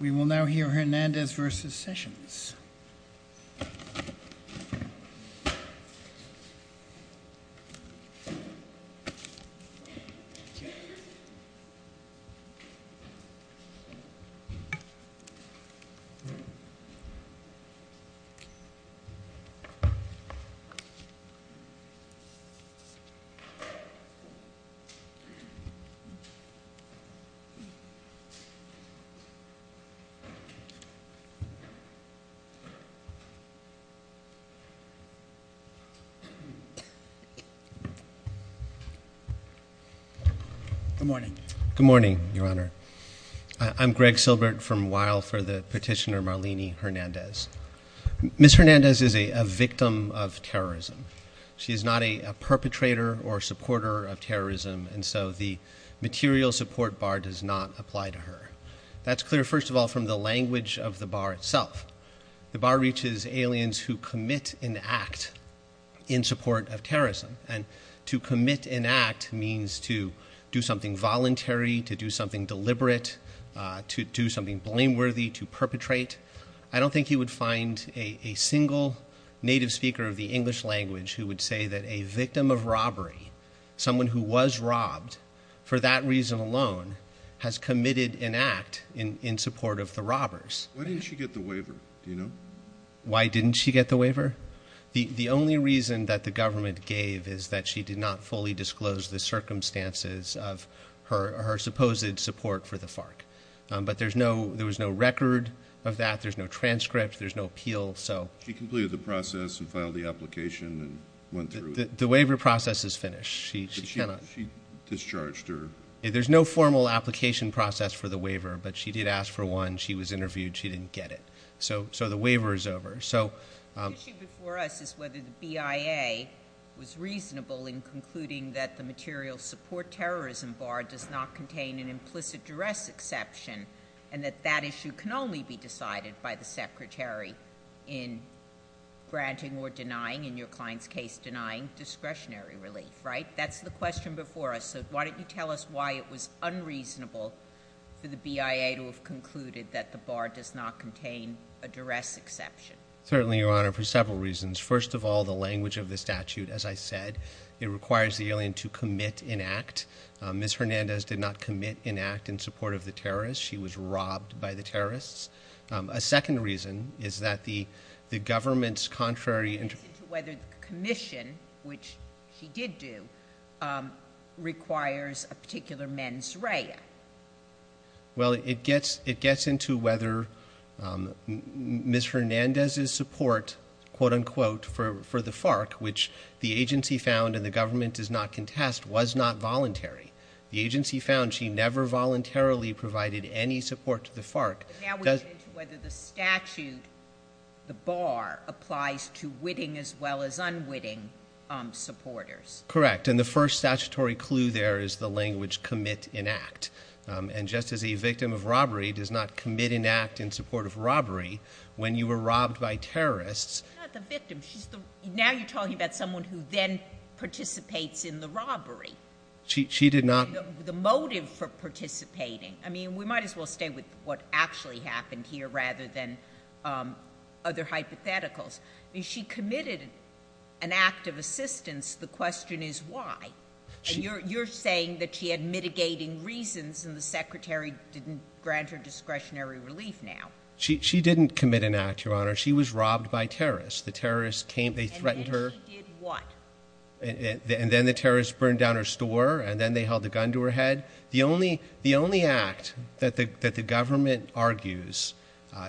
We will now hear Hernandez v. Sessions. Good morning. Good morning, Your Honor. I'm Greg Silbert from Weill for the petitioner Marlene Hernandez. Ms. Hernandez is a victim of terrorism. She is not a perpetrator or supporter of terrorism, and so the material support bar does not apply to her. That's clear, first of all, from the language of the bar itself. The bar reaches aliens who commit an act in support of terrorism, and to commit an act means to do something voluntary, to do something deliberate, to do something blameworthy, to perpetrate. I don't think you would find a single native speaker of the English language who would say that a victim of robbery, someone who was robbed, for that reason alone, has committed an act in support of the robbers. Why didn't she get the waiver? Do you know? Why didn't she get the waiver? The only reason that the government gave is that she did not fully disclose the circumstances of her supposed support for the FARC, but there was no record of that, there's no transcript, there's no appeal. She completed the process and filed the application and went through it. The waiver process is finished. She discharged her. There's no formal application process for the waiver, but she did ask for one. She was interviewed. She didn't get it. So the waiver is over. The issue before us is whether the BIA was reasonable in concluding that the material support terrorism bar does not contain an implicit duress exception and that that issue can only be decided by the Secretary in granting or denying, in your client's case, denying discretionary relief, right? That's the question before us. So why don't you tell us why it was unreasonable for the BIA to have concluded that the bar does not contain a duress exception? Certainly, Your Honor, for several reasons. First of all, the language of the statute, as I said, it requires the alien to commit an act. Ms. Hernandez did not commit an act in support of the terrorists. She was robbed by the terrorists. A second reason is that the government's contrary interpretation. Whether the commission, which she did do, requires a particular mens rea. Well, it gets into whether Ms. Hernandez's support, quote-unquote, for the FARC, which the agency found and the government does not contest, was not voluntary. The agency found she never voluntarily provided any support to the FARC. Now we get into whether the statute, the bar, applies to witting as well as unwitting supporters. Correct. And the first statutory clue there is the language commit an act. And just as a victim of robbery does not commit an act in support of robbery, when you were robbed by terrorists. She's not the victim. Now you're talking about someone who then participates in the robbery. She did not. The motive for participating. I mean, we might as well stay with what actually happened here rather than other hypotheticals. I mean, she committed an act of assistance. The question is why. You're saying that she had mitigating reasons and the secretary didn't grant her discretionary relief now. She didn't commit an act, Your Honor. She was robbed by terrorists. The terrorists came. They threatened her. And then she did what? And then the terrorists burned down her store and then they held a gun to her head. The only act that the government argues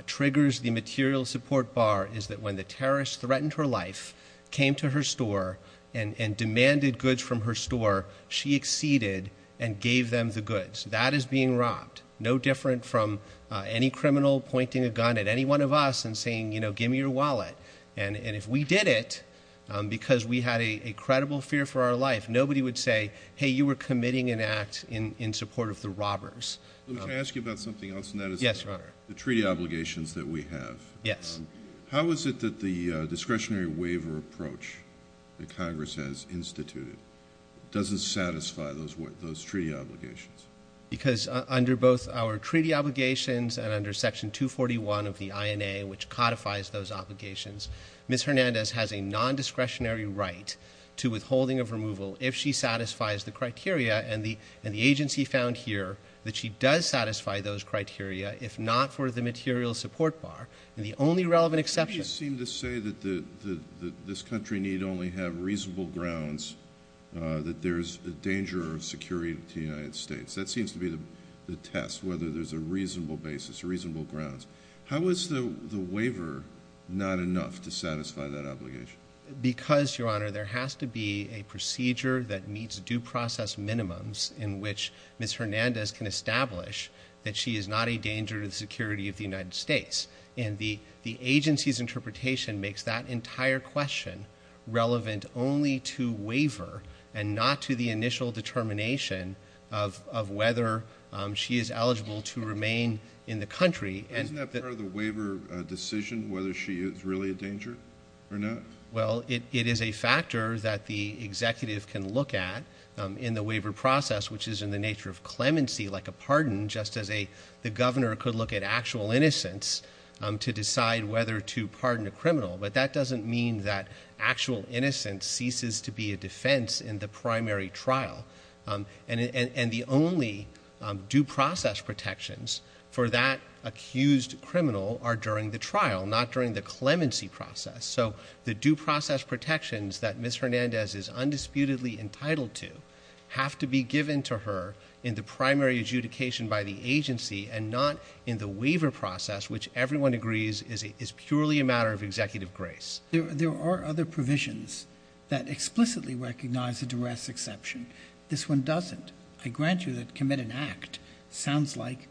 triggers the material support bar is that when the terrorists threatened her life, came to her store, and demanded goods from her store, she acceded and gave them the goods. That is being robbed. No different from any criminal pointing a gun at any one of us and saying, you know, give me your wallet. And if we did it because we had a credible fear for our life, nobody would say, hey, you were committing an act in support of the robbers. Let me ask you about something else, and that is the treaty obligations that we have. Yes. How is it that the discretionary waiver approach that Congress has instituted doesn't satisfy those treaty obligations? Because under both our treaty obligations and under Section 241 of the INA, which codifies those obligations, Ms. Hernandez has a non-discretionary right to withholding of removal if she satisfies the criteria, and the agency found here that she does satisfy those criteria if not for the material support bar. And the only relevant exception to that is that the agency found here that she does satisfy those criteria if not for the material support bar. That seems to be the test, whether there's a reasonable basis, reasonable grounds. How is the waiver not enough to satisfy that obligation? Because, Your Honor, there has to be a procedure that meets due process minimums in which Ms. Hernandez can establish that she is not a danger to the security of the United States. And the agency's interpretation makes that entire question relevant only to waiver and not to the initial determination of whether she is eligible to remain in the country. Isn't that part of the waiver decision, whether she is really a danger or not? Well, it is a factor that the executive can look at in the waiver process, which is in the nature of clemency, like a pardon, just as the governor could look at actual innocence to decide whether to pardon a criminal. But that doesn't mean that actual innocence ceases to be a defense in the primary trial. And the only due process protections for that accused criminal are during the trial, not during the clemency process. So the due process protections that Ms. Hernandez is undisputedly entitled to have to be given to her in the primary adjudication by the agency and not in the waiver process, which everyone agrees is purely a matter of executive grace. There are other provisions that explicitly recognize a duress exception. This one doesn't. I grant you that commit an act sounds like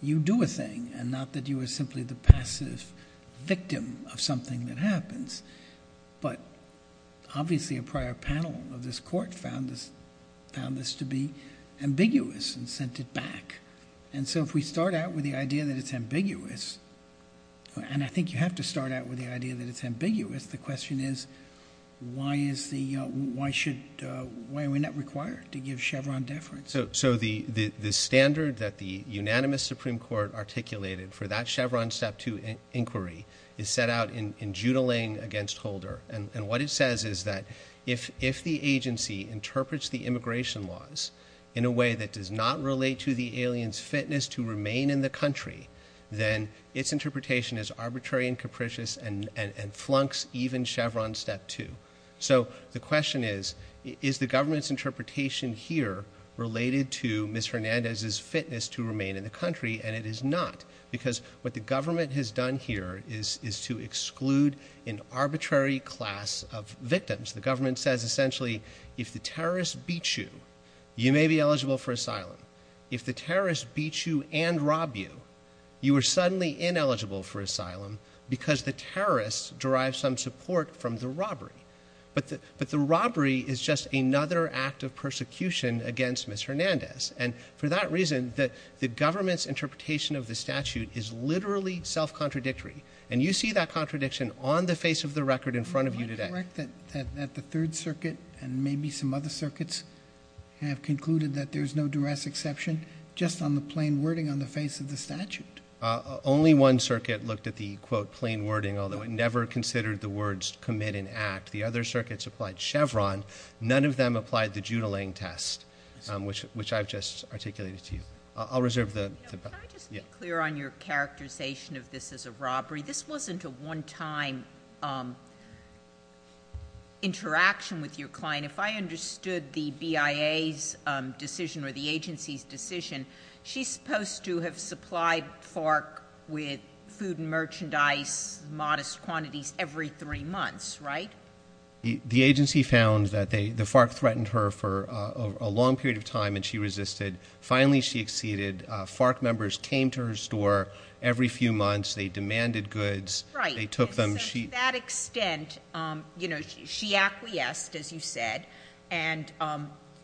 you do a thing and not that you are simply the passive victim of something that happens. But obviously a prior panel of this court found this to be ambiguous and sent it back. And so if we start out with the idea that it's ambiguous, and I think you have to start out with the idea that it's ambiguous, the question is why are we not required to give Chevron deference? So the standard that the unanimous Supreme Court articulated for that Chevron Step 2 inquiry is set out in Judling against Holder. And what it says is that if the agency interprets the immigration laws in a way that does not relate to the alien's fitness to remain in the country, then its interpretation is arbitrary and capricious and flunks even Chevron Step 2. So the question is, is the government's interpretation here related to Ms. Fernandez's fitness to remain in the country, and it is not. Because what the government has done here is to exclude an arbitrary class of victims. The government says essentially if the terrorist beats you, you may be eligible for asylum. If the terrorist beats you and robs you, you are suddenly ineligible for asylum because the terrorist derives some support from the robbery. But the robbery is just another act of persecution against Ms. Hernandez. And for that reason, the government's interpretation of the statute is literally self-contradictory. And you see that contradiction on the face of the record in front of you today. Am I correct that the Third Circuit and maybe some other circuits have concluded that there's no duress exception just on the plain wording on the face of the statute? Only one circuit looked at the, quote, plain wording, although it never considered the words commit and act. The other circuits applied Chevron. None of them applied the Judolang test, which I've just articulated to you. I'll reserve the— Can I just be clear on your characterization of this as a robbery? This wasn't a one-time interaction with your client. If I understood the BIA's decision or the agency's decision, she's supposed to have supplied FARC with food and merchandise, modest quantities, every three months, right? The agency found that the FARC threatened her for a long period of time, and she resisted. Finally, she acceded. FARC members came to her store every few months. They demanded goods. Right. They took them. To that extent, she acquiesced, as you said, and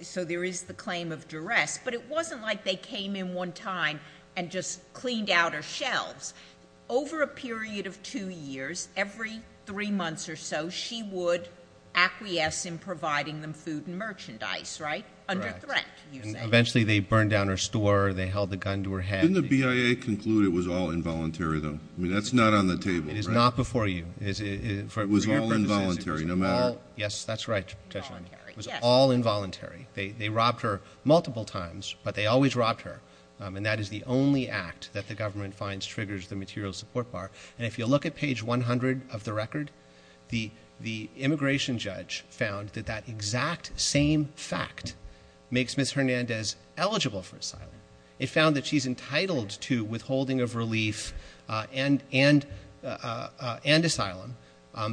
so there is the claim of duress. But it wasn't like they came in one time and just cleaned out her shelves. Over a period of two years, every three months or so, she would acquiesce in providing them food and merchandise, right? Correct. Under threat, you say. Eventually, they burned down her store. They held a gun to her head. Didn't the BIA conclude it was all involuntary, though? I mean, that's not on the table, right? It is not before you. It was all involuntary, no matter— Yes, that's right, Judge O'Connor. It was all involuntary. They robbed her multiple times, but they always robbed her. And that is the only act that the government finds triggers the material support bar. And if you look at page 100 of the record, the immigration judge found that that exact same fact makes Ms. Hernandez eligible for asylum. It found that she's entitled to withholding of relief and asylum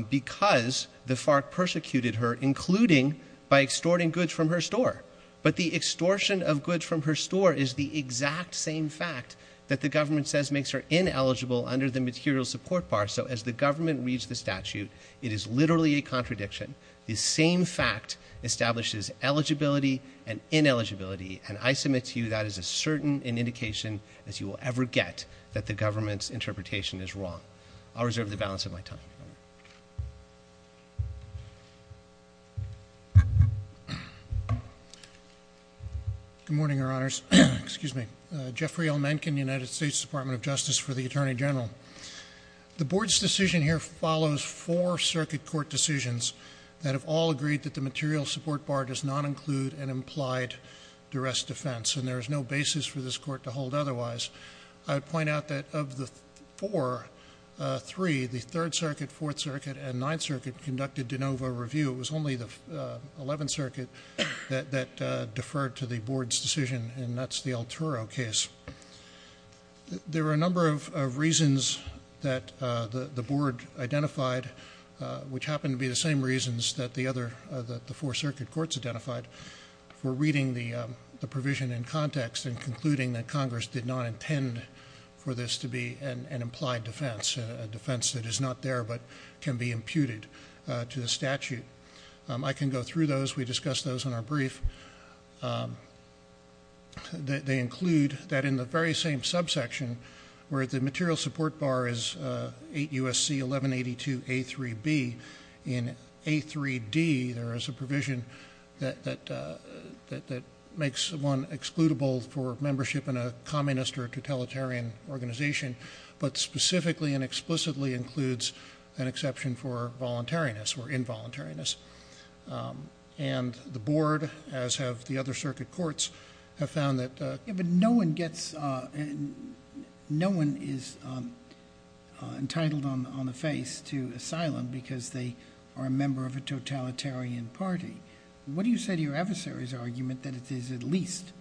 because the FARC persecuted her, including by extorting goods from her store. But the extortion of goods from her store is the exact same fact that the government says makes her ineligible under the material support bar. So as the government reads the statute, it is literally a contradiction. The same fact establishes eligibility and ineligibility. And I submit to you that is as certain an indication as you will ever get that the government's interpretation is wrong. I'll reserve the balance of my time. Good morning, Your Honors. Excuse me. Jeffrey L. Menken, United States Department of Justice for the Attorney General. The board's decision here follows four circuit court decisions that have all agreed that the material support bar does not include an implied duress defense. And there is no basis for this court to hold otherwise. I would point out that of the four, three, the Third Circuit, Fourth Circuit, and Ninth Circuit conducted de novo review. It was only the Eleventh Circuit that deferred to the board's decision, and that's the Alturo case. There are a number of reasons that the board identified, which happen to be the same reasons that the four circuit courts identified, for reading the provision in context and concluding that Congress did not intend for this to be an implied defense, a defense that is not there but can be imputed to the statute. I can go through those. We discussed those in our brief. They include that in the very same subsection where the material support bar is 8 U.S.C. 1182 A3B, in A3D there is a provision that makes one excludable for membership in a communist or totalitarian organization, but specifically and explicitly includes an exception for voluntariness or involuntariness. And the board, as have the other circuit courts, have found that... But no one gets, no one is entitled on the face to asylum because they are a member of a totalitarian party. What do you say to your adversary's argument that it is at least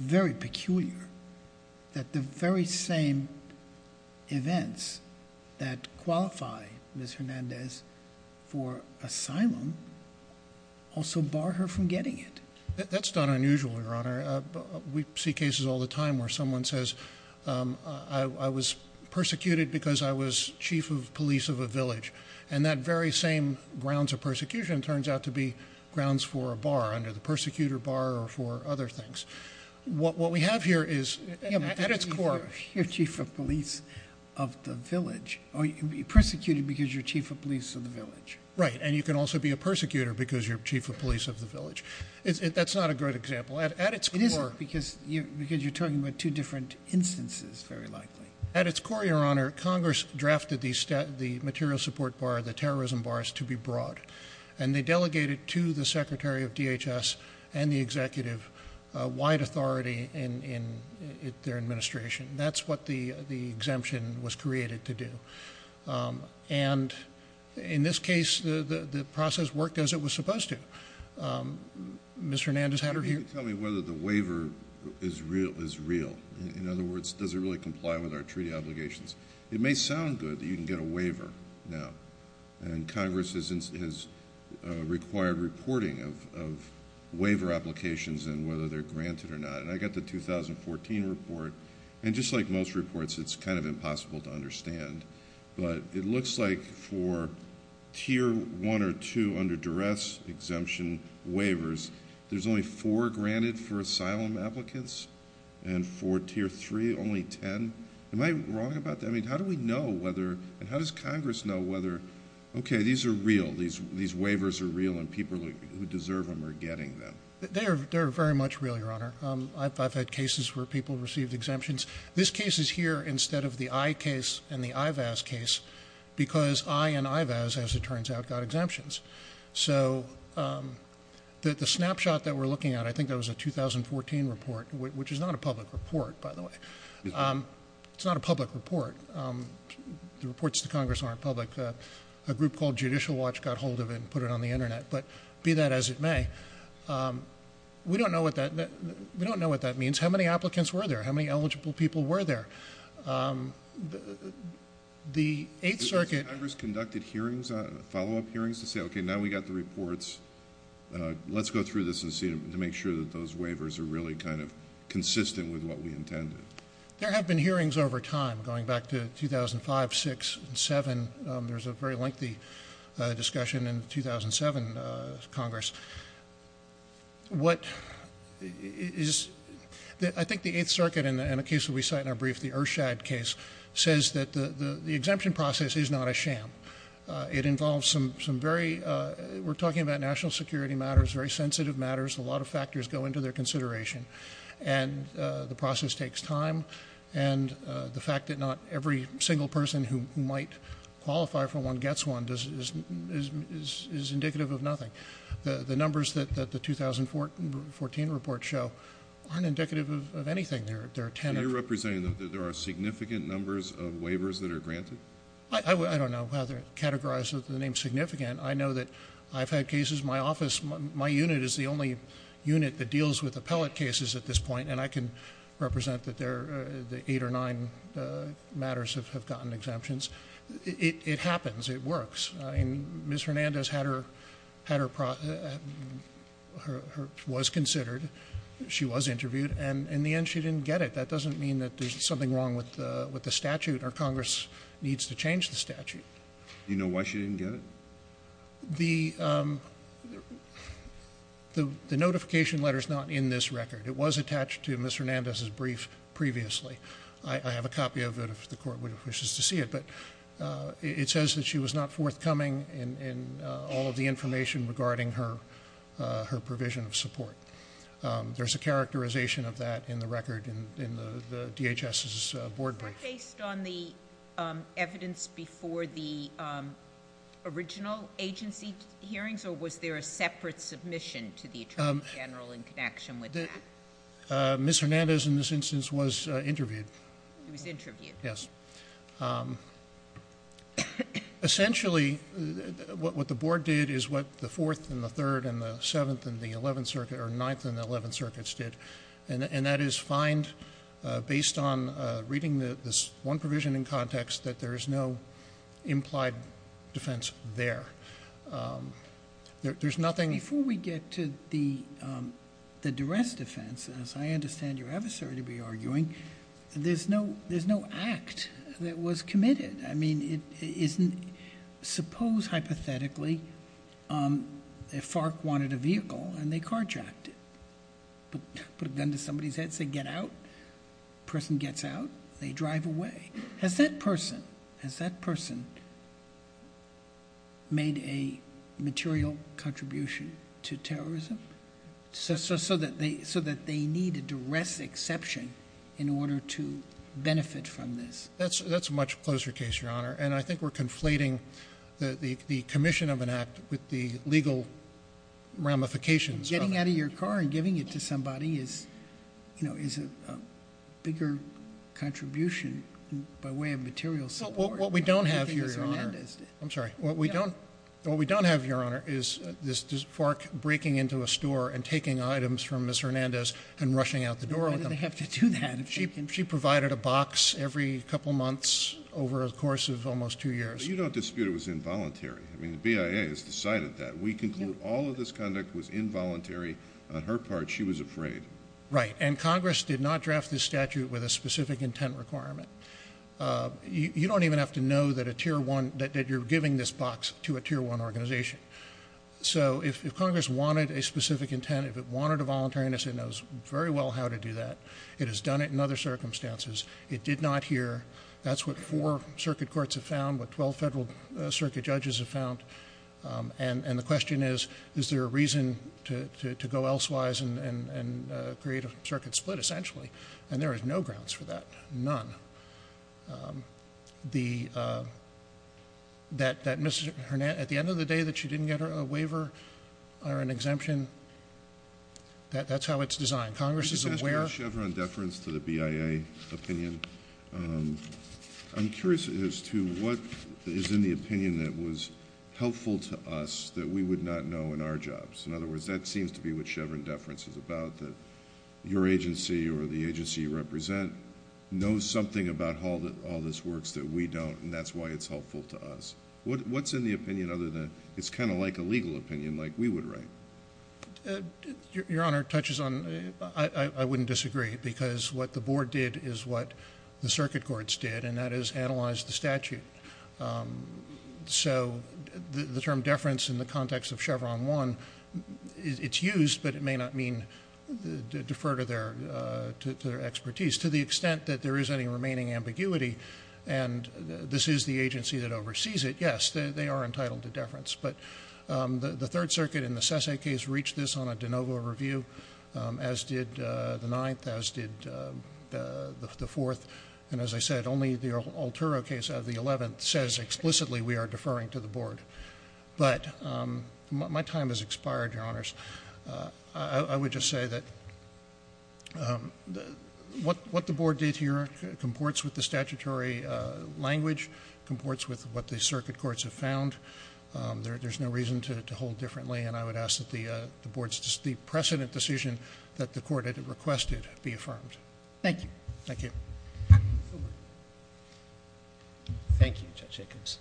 very peculiar that the very same events that qualify Ms. Hernandez for asylum also bar her from getting it? That's not unusual, Your Honor. We see cases all the time where someone says, I was persecuted because I was chief of police of a village. And that very same grounds of persecution turns out to be grounds for a bar, under the persecutor bar or for other things. What we have here is, at its core... Or you can be persecuted because you're chief of police of the village. Right, and you can also be a persecutor because you're chief of police of the village. That's not a good example. At its core... It isn't, because you're talking about two different instances, very likely. At its core, Your Honor, Congress drafted the material support bar, the terrorism bars, to be broad. And they delegated to the Secretary of DHS and the executive wide authority in their administration. That's what the exemption was created to do. And in this case, the process worked as it was supposed to. Ms. Hernandez had her hearing... Can you tell me whether the waiver is real? In other words, does it really comply with our treaty obligations? It may sound good that you can get a waiver now. And Congress has required reporting of waiver applications and whether they're granted or not. And I got the 2014 report. And just like most reports, it's kind of impossible to understand. But it looks like for Tier 1 or 2 under duress exemption waivers, there's only four granted for asylum applicants. And for Tier 3, only ten. Am I wrong about that? I mean, how do we know whether... And how does Congress know whether, okay, these are real. These waivers are real and people who deserve them are getting them. They're very much real, Your Honor. I've had cases where people received exemptions. This case is here instead of the EYE case and the IVAS case because EYE and IVAS, as it turns out, got exemptions. So the snapshot that we're looking at, I think that was a 2014 report, which is not a public report, by the way. It's not a public report. The reports to Congress aren't public. A group called Judicial Watch got hold of it and put it on the Internet. But be that as it may, we don't know what that... We don't know what that means. How many applicants were there? How many eligible people were there? The Eighth Circuit... Has Congress conducted hearings, follow-up hearings, to say, okay, now we've got the reports. Let's go through this and see to make sure that those waivers are really kind of consistent with what we intended? There have been hearings over time, going back to 2005, 2006, and 2007. There was a very lengthy discussion in the 2007 Congress. What is... I think the Eighth Circuit, and a case that we cite in our brief, the Ershad case, says that the exemption process is not a sham. It involves some very... We're talking about national security matters, very sensitive matters. A lot of factors go into their consideration. And the process takes time. And the fact that not every single person who might qualify for one gets one is indicative of nothing. The numbers that the 2014 reports show aren't indicative of anything. There are 10... So you're representing that there are significant numbers of waivers that are granted? I don't know how to categorize the name significant. I know that I've had cases... My office, my unit is the only unit that deals with appellate cases at this point. And I can represent that eight or nine matters have gotten exemptions. It happens. It works. Ms. Hernandez had her... was considered. She was interviewed. And in the end, she didn't get it. That doesn't mean that there's something wrong with the statute or Congress needs to change the statute. Do you know why she didn't get it? The notification letter is not in this record. It was attached to Ms. Hernandez's brief previously. I have a copy of it if the Court wishes to see it. But it says that she was not forthcoming in all of the information regarding her provision of support. There's a characterization of that in the record in the DHS's board brief. Was that based on the evidence before the original agency hearings? Or was there a separate submission to the Attorney General in connection with that? Ms. Hernandez, in this instance, was interviewed. She was interviewed? Yes. Okay. Essentially, what the board did is what the Fourth and the Third and the Seventh and the Ninth and the Eleventh Circuits did. And that is find, based on reading this one provision in context, that there is no implied defense there. There's nothing... I mean, suppose, hypothetically, if FARC wanted a vehicle and they carjacked it. Put a gun to somebody's head and say, get out. Person gets out. They drive away. So that they needed to rest exception in order to benefit from this. That's a much closer case, Your Honor. And I think we're conflating the commission of an act with the legal ramifications of it. Getting out of your car and giving it to somebody is a bigger contribution by way of material support. What we don't have here, Your Honor... I think Ms. Hernandez did. I'm sorry. What we don't have, Your Honor, is FARC breaking into a store and taking items from Ms. Hernandez and rushing out the door with them. Why did they have to do that? She provided a box every couple months over the course of almost two years. But you don't dispute it was involuntary. I mean, the BIA has decided that. We conclude all of this conduct was involuntary. On her part, she was afraid. Right. And Congress did not draft this statute with a specific intent requirement. You don't even have to know that you're giving this box to a Tier 1 organization. So, if Congress wanted a specific intent, if it wanted a voluntariness, it knows very well how to do that. It has done it in other circumstances. It did not hear. That's what four circuit courts have found, what 12 federal circuit judges have found. And the question is, is there a reason to go elsewise and create a circuit split, essentially? And there is no grounds for that. None. That Ms. Hernandez, at the end of the day, that she didn't get a waiver or an exemption, that's how it's designed. Congress is aware. Let me just ask about Chevron deference to the BIA opinion. I'm curious as to what is in the opinion that was helpful to us that we would not know in our jobs. In other words, that seems to be what Chevron deference is about, that your agency or the agency you represent knows something about how all this works that we don't, and that's why it's helpful to us. What's in the opinion other than it's kind of like a legal opinion like we would write? Your Honor, it touches on, I wouldn't disagree, because what the board did is what the circuit courts did, and that is analyze the statute. So the term deference in the context of Chevron 1, it's used, but it may not mean defer to their expertise to the extent that there is any remaining ambiguity, and this is the agency that oversees it. Yes, they are entitled to deference, but the Third Circuit in the SESA case reached this on a de novo review, as did the Ninth, as did the Fourth. And as I said, only the Altero case out of the Eleventh says explicitly we are deferring to the board. But my time has expired, Your Honors. I would just say that what the board did here comports with the statutory language, comports with what the circuit courts have found. There's no reason to hold differently, and I would ask that the board's precedent decision that the court had requested be affirmed. Thank you. Thank you. Thank you, Judge Jacobs.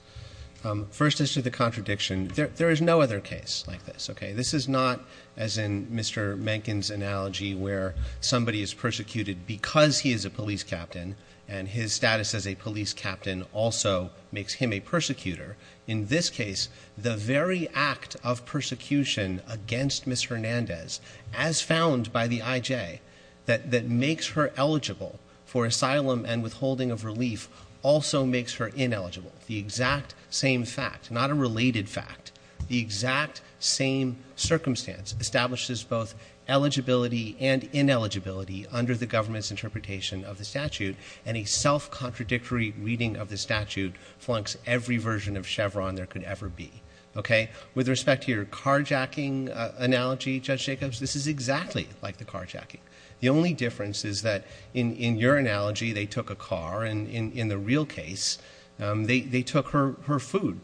First, as to the contradiction, there is no other case like this, okay? This is not, as in Mr. Mencken's analogy, where somebody is persecuted because he is a police captain and his status as a police captain also makes him a persecutor. In this case, the very act of persecution against Ms. Hernandez, as found by the IJ, that makes her eligible for asylum and withholding of relief also makes her ineligible. The exact same fact, not a related fact, the exact same circumstance, establishes both eligibility and ineligibility under the government's interpretation of the statute, and a self-contradictory reading of the statute flunks every version of Chevron there could ever be, okay? With respect to your carjacking analogy, Judge Jacobs, this is exactly like the carjacking. The only difference is that in your analogy, they took a car, and in the real case, they took her food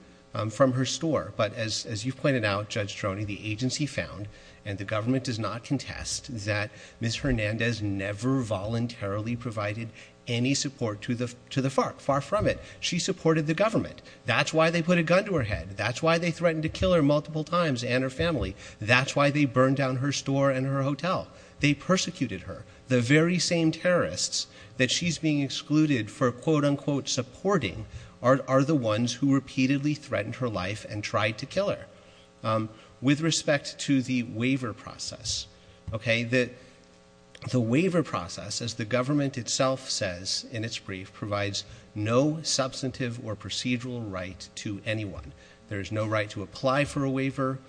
from her store. But as you've pointed out, Judge Troni, the agency found, and the government does not contest, that Ms. Hernandez never voluntarily provided any support to the FARC, far from it. She supported the government. That's why they put a gun to her head. That's why they threatened to kill her multiple times and her family. That's why they burned down her store and her hotel. They persecuted her. The very same terrorists that she's being excluded for quote-unquote supporting are the ones who repeatedly threatened her life and tried to kill her. With respect to the waiver process, okay, the waiver process, as the government itself says in its brief, provides no substantive or procedural right to anyone. There is no right to apply for a waiver.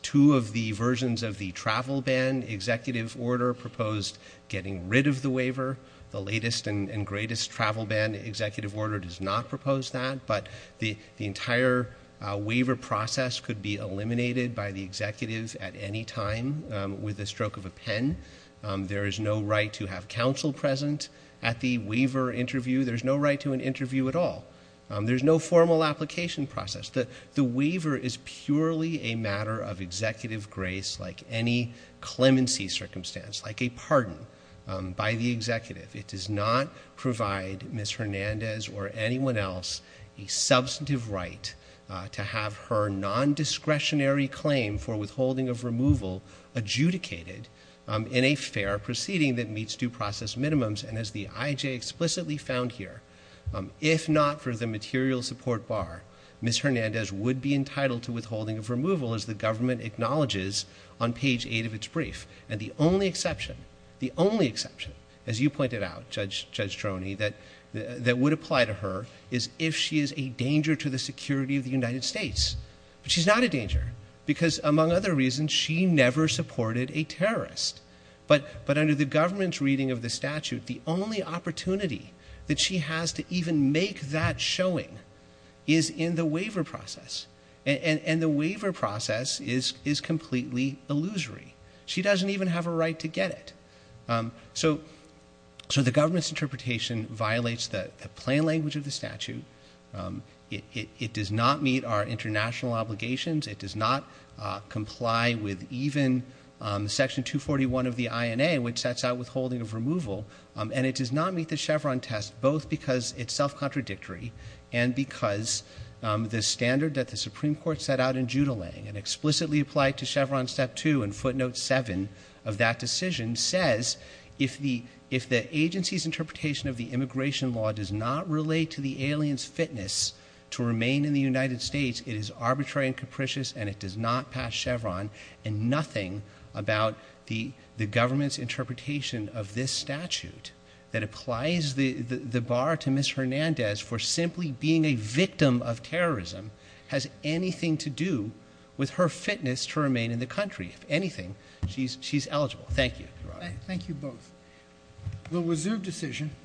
Two of the versions of the travel ban executive order proposed getting rid of the waiver. The latest and greatest travel ban executive order does not propose that, but the entire waiver process could be eliminated by the executive at any time with the stroke of a pen. There is no right to have counsel present at the waiver interview. There's no right to an interview at all. There's no formal application process. The waiver is purely a matter of executive grace like any clemency circumstance, like a pardon by the executive. It does not provide Ms. Hernandez or anyone else a substantive right to have her nondiscretionary claim for withholding of removal adjudicated in a fair proceeding that meets due process minimums. And as the IJ explicitly found here, if not for the material support bar, Ms. Hernandez would be entitled to withholding of removal as the government acknowledges on page 8 of its brief. And the only exception, the only exception, as you pointed out, Judge Droney, that would apply to her is if she is a danger to the security of the United States. But she's not a danger because, among other reasons, she never supported a terrorist. But under the government's reading of the statute, the only opportunity that she has to even make that showing is in the waiver process. And the waiver process is completely illusory. She doesn't even have a right to get it. So the government's interpretation violates the plain language of the statute. It does not meet our international obligations. It does not comply with even Section 241 of the INA, which sets out withholding of removal. And it does not meet the Chevron test, both because it's self-contradictory and because the standard that the Supreme Court set out in Judulang and explicitly applied to Chevron Step 2 and footnote 7 of that decision says if the agency's interpretation of the immigration law does not relate to the alien's fitness to remain in the United States, it is arbitrary and capricious and it does not pass Chevron and nothing about the government's interpretation of this statute that applies the bar to Ms. Hernandez for simply being a victim of terrorism has anything to do with her fitness to remain in the country. If anything, she's eligible. Thank you. Thank you both. We'll reserve decision.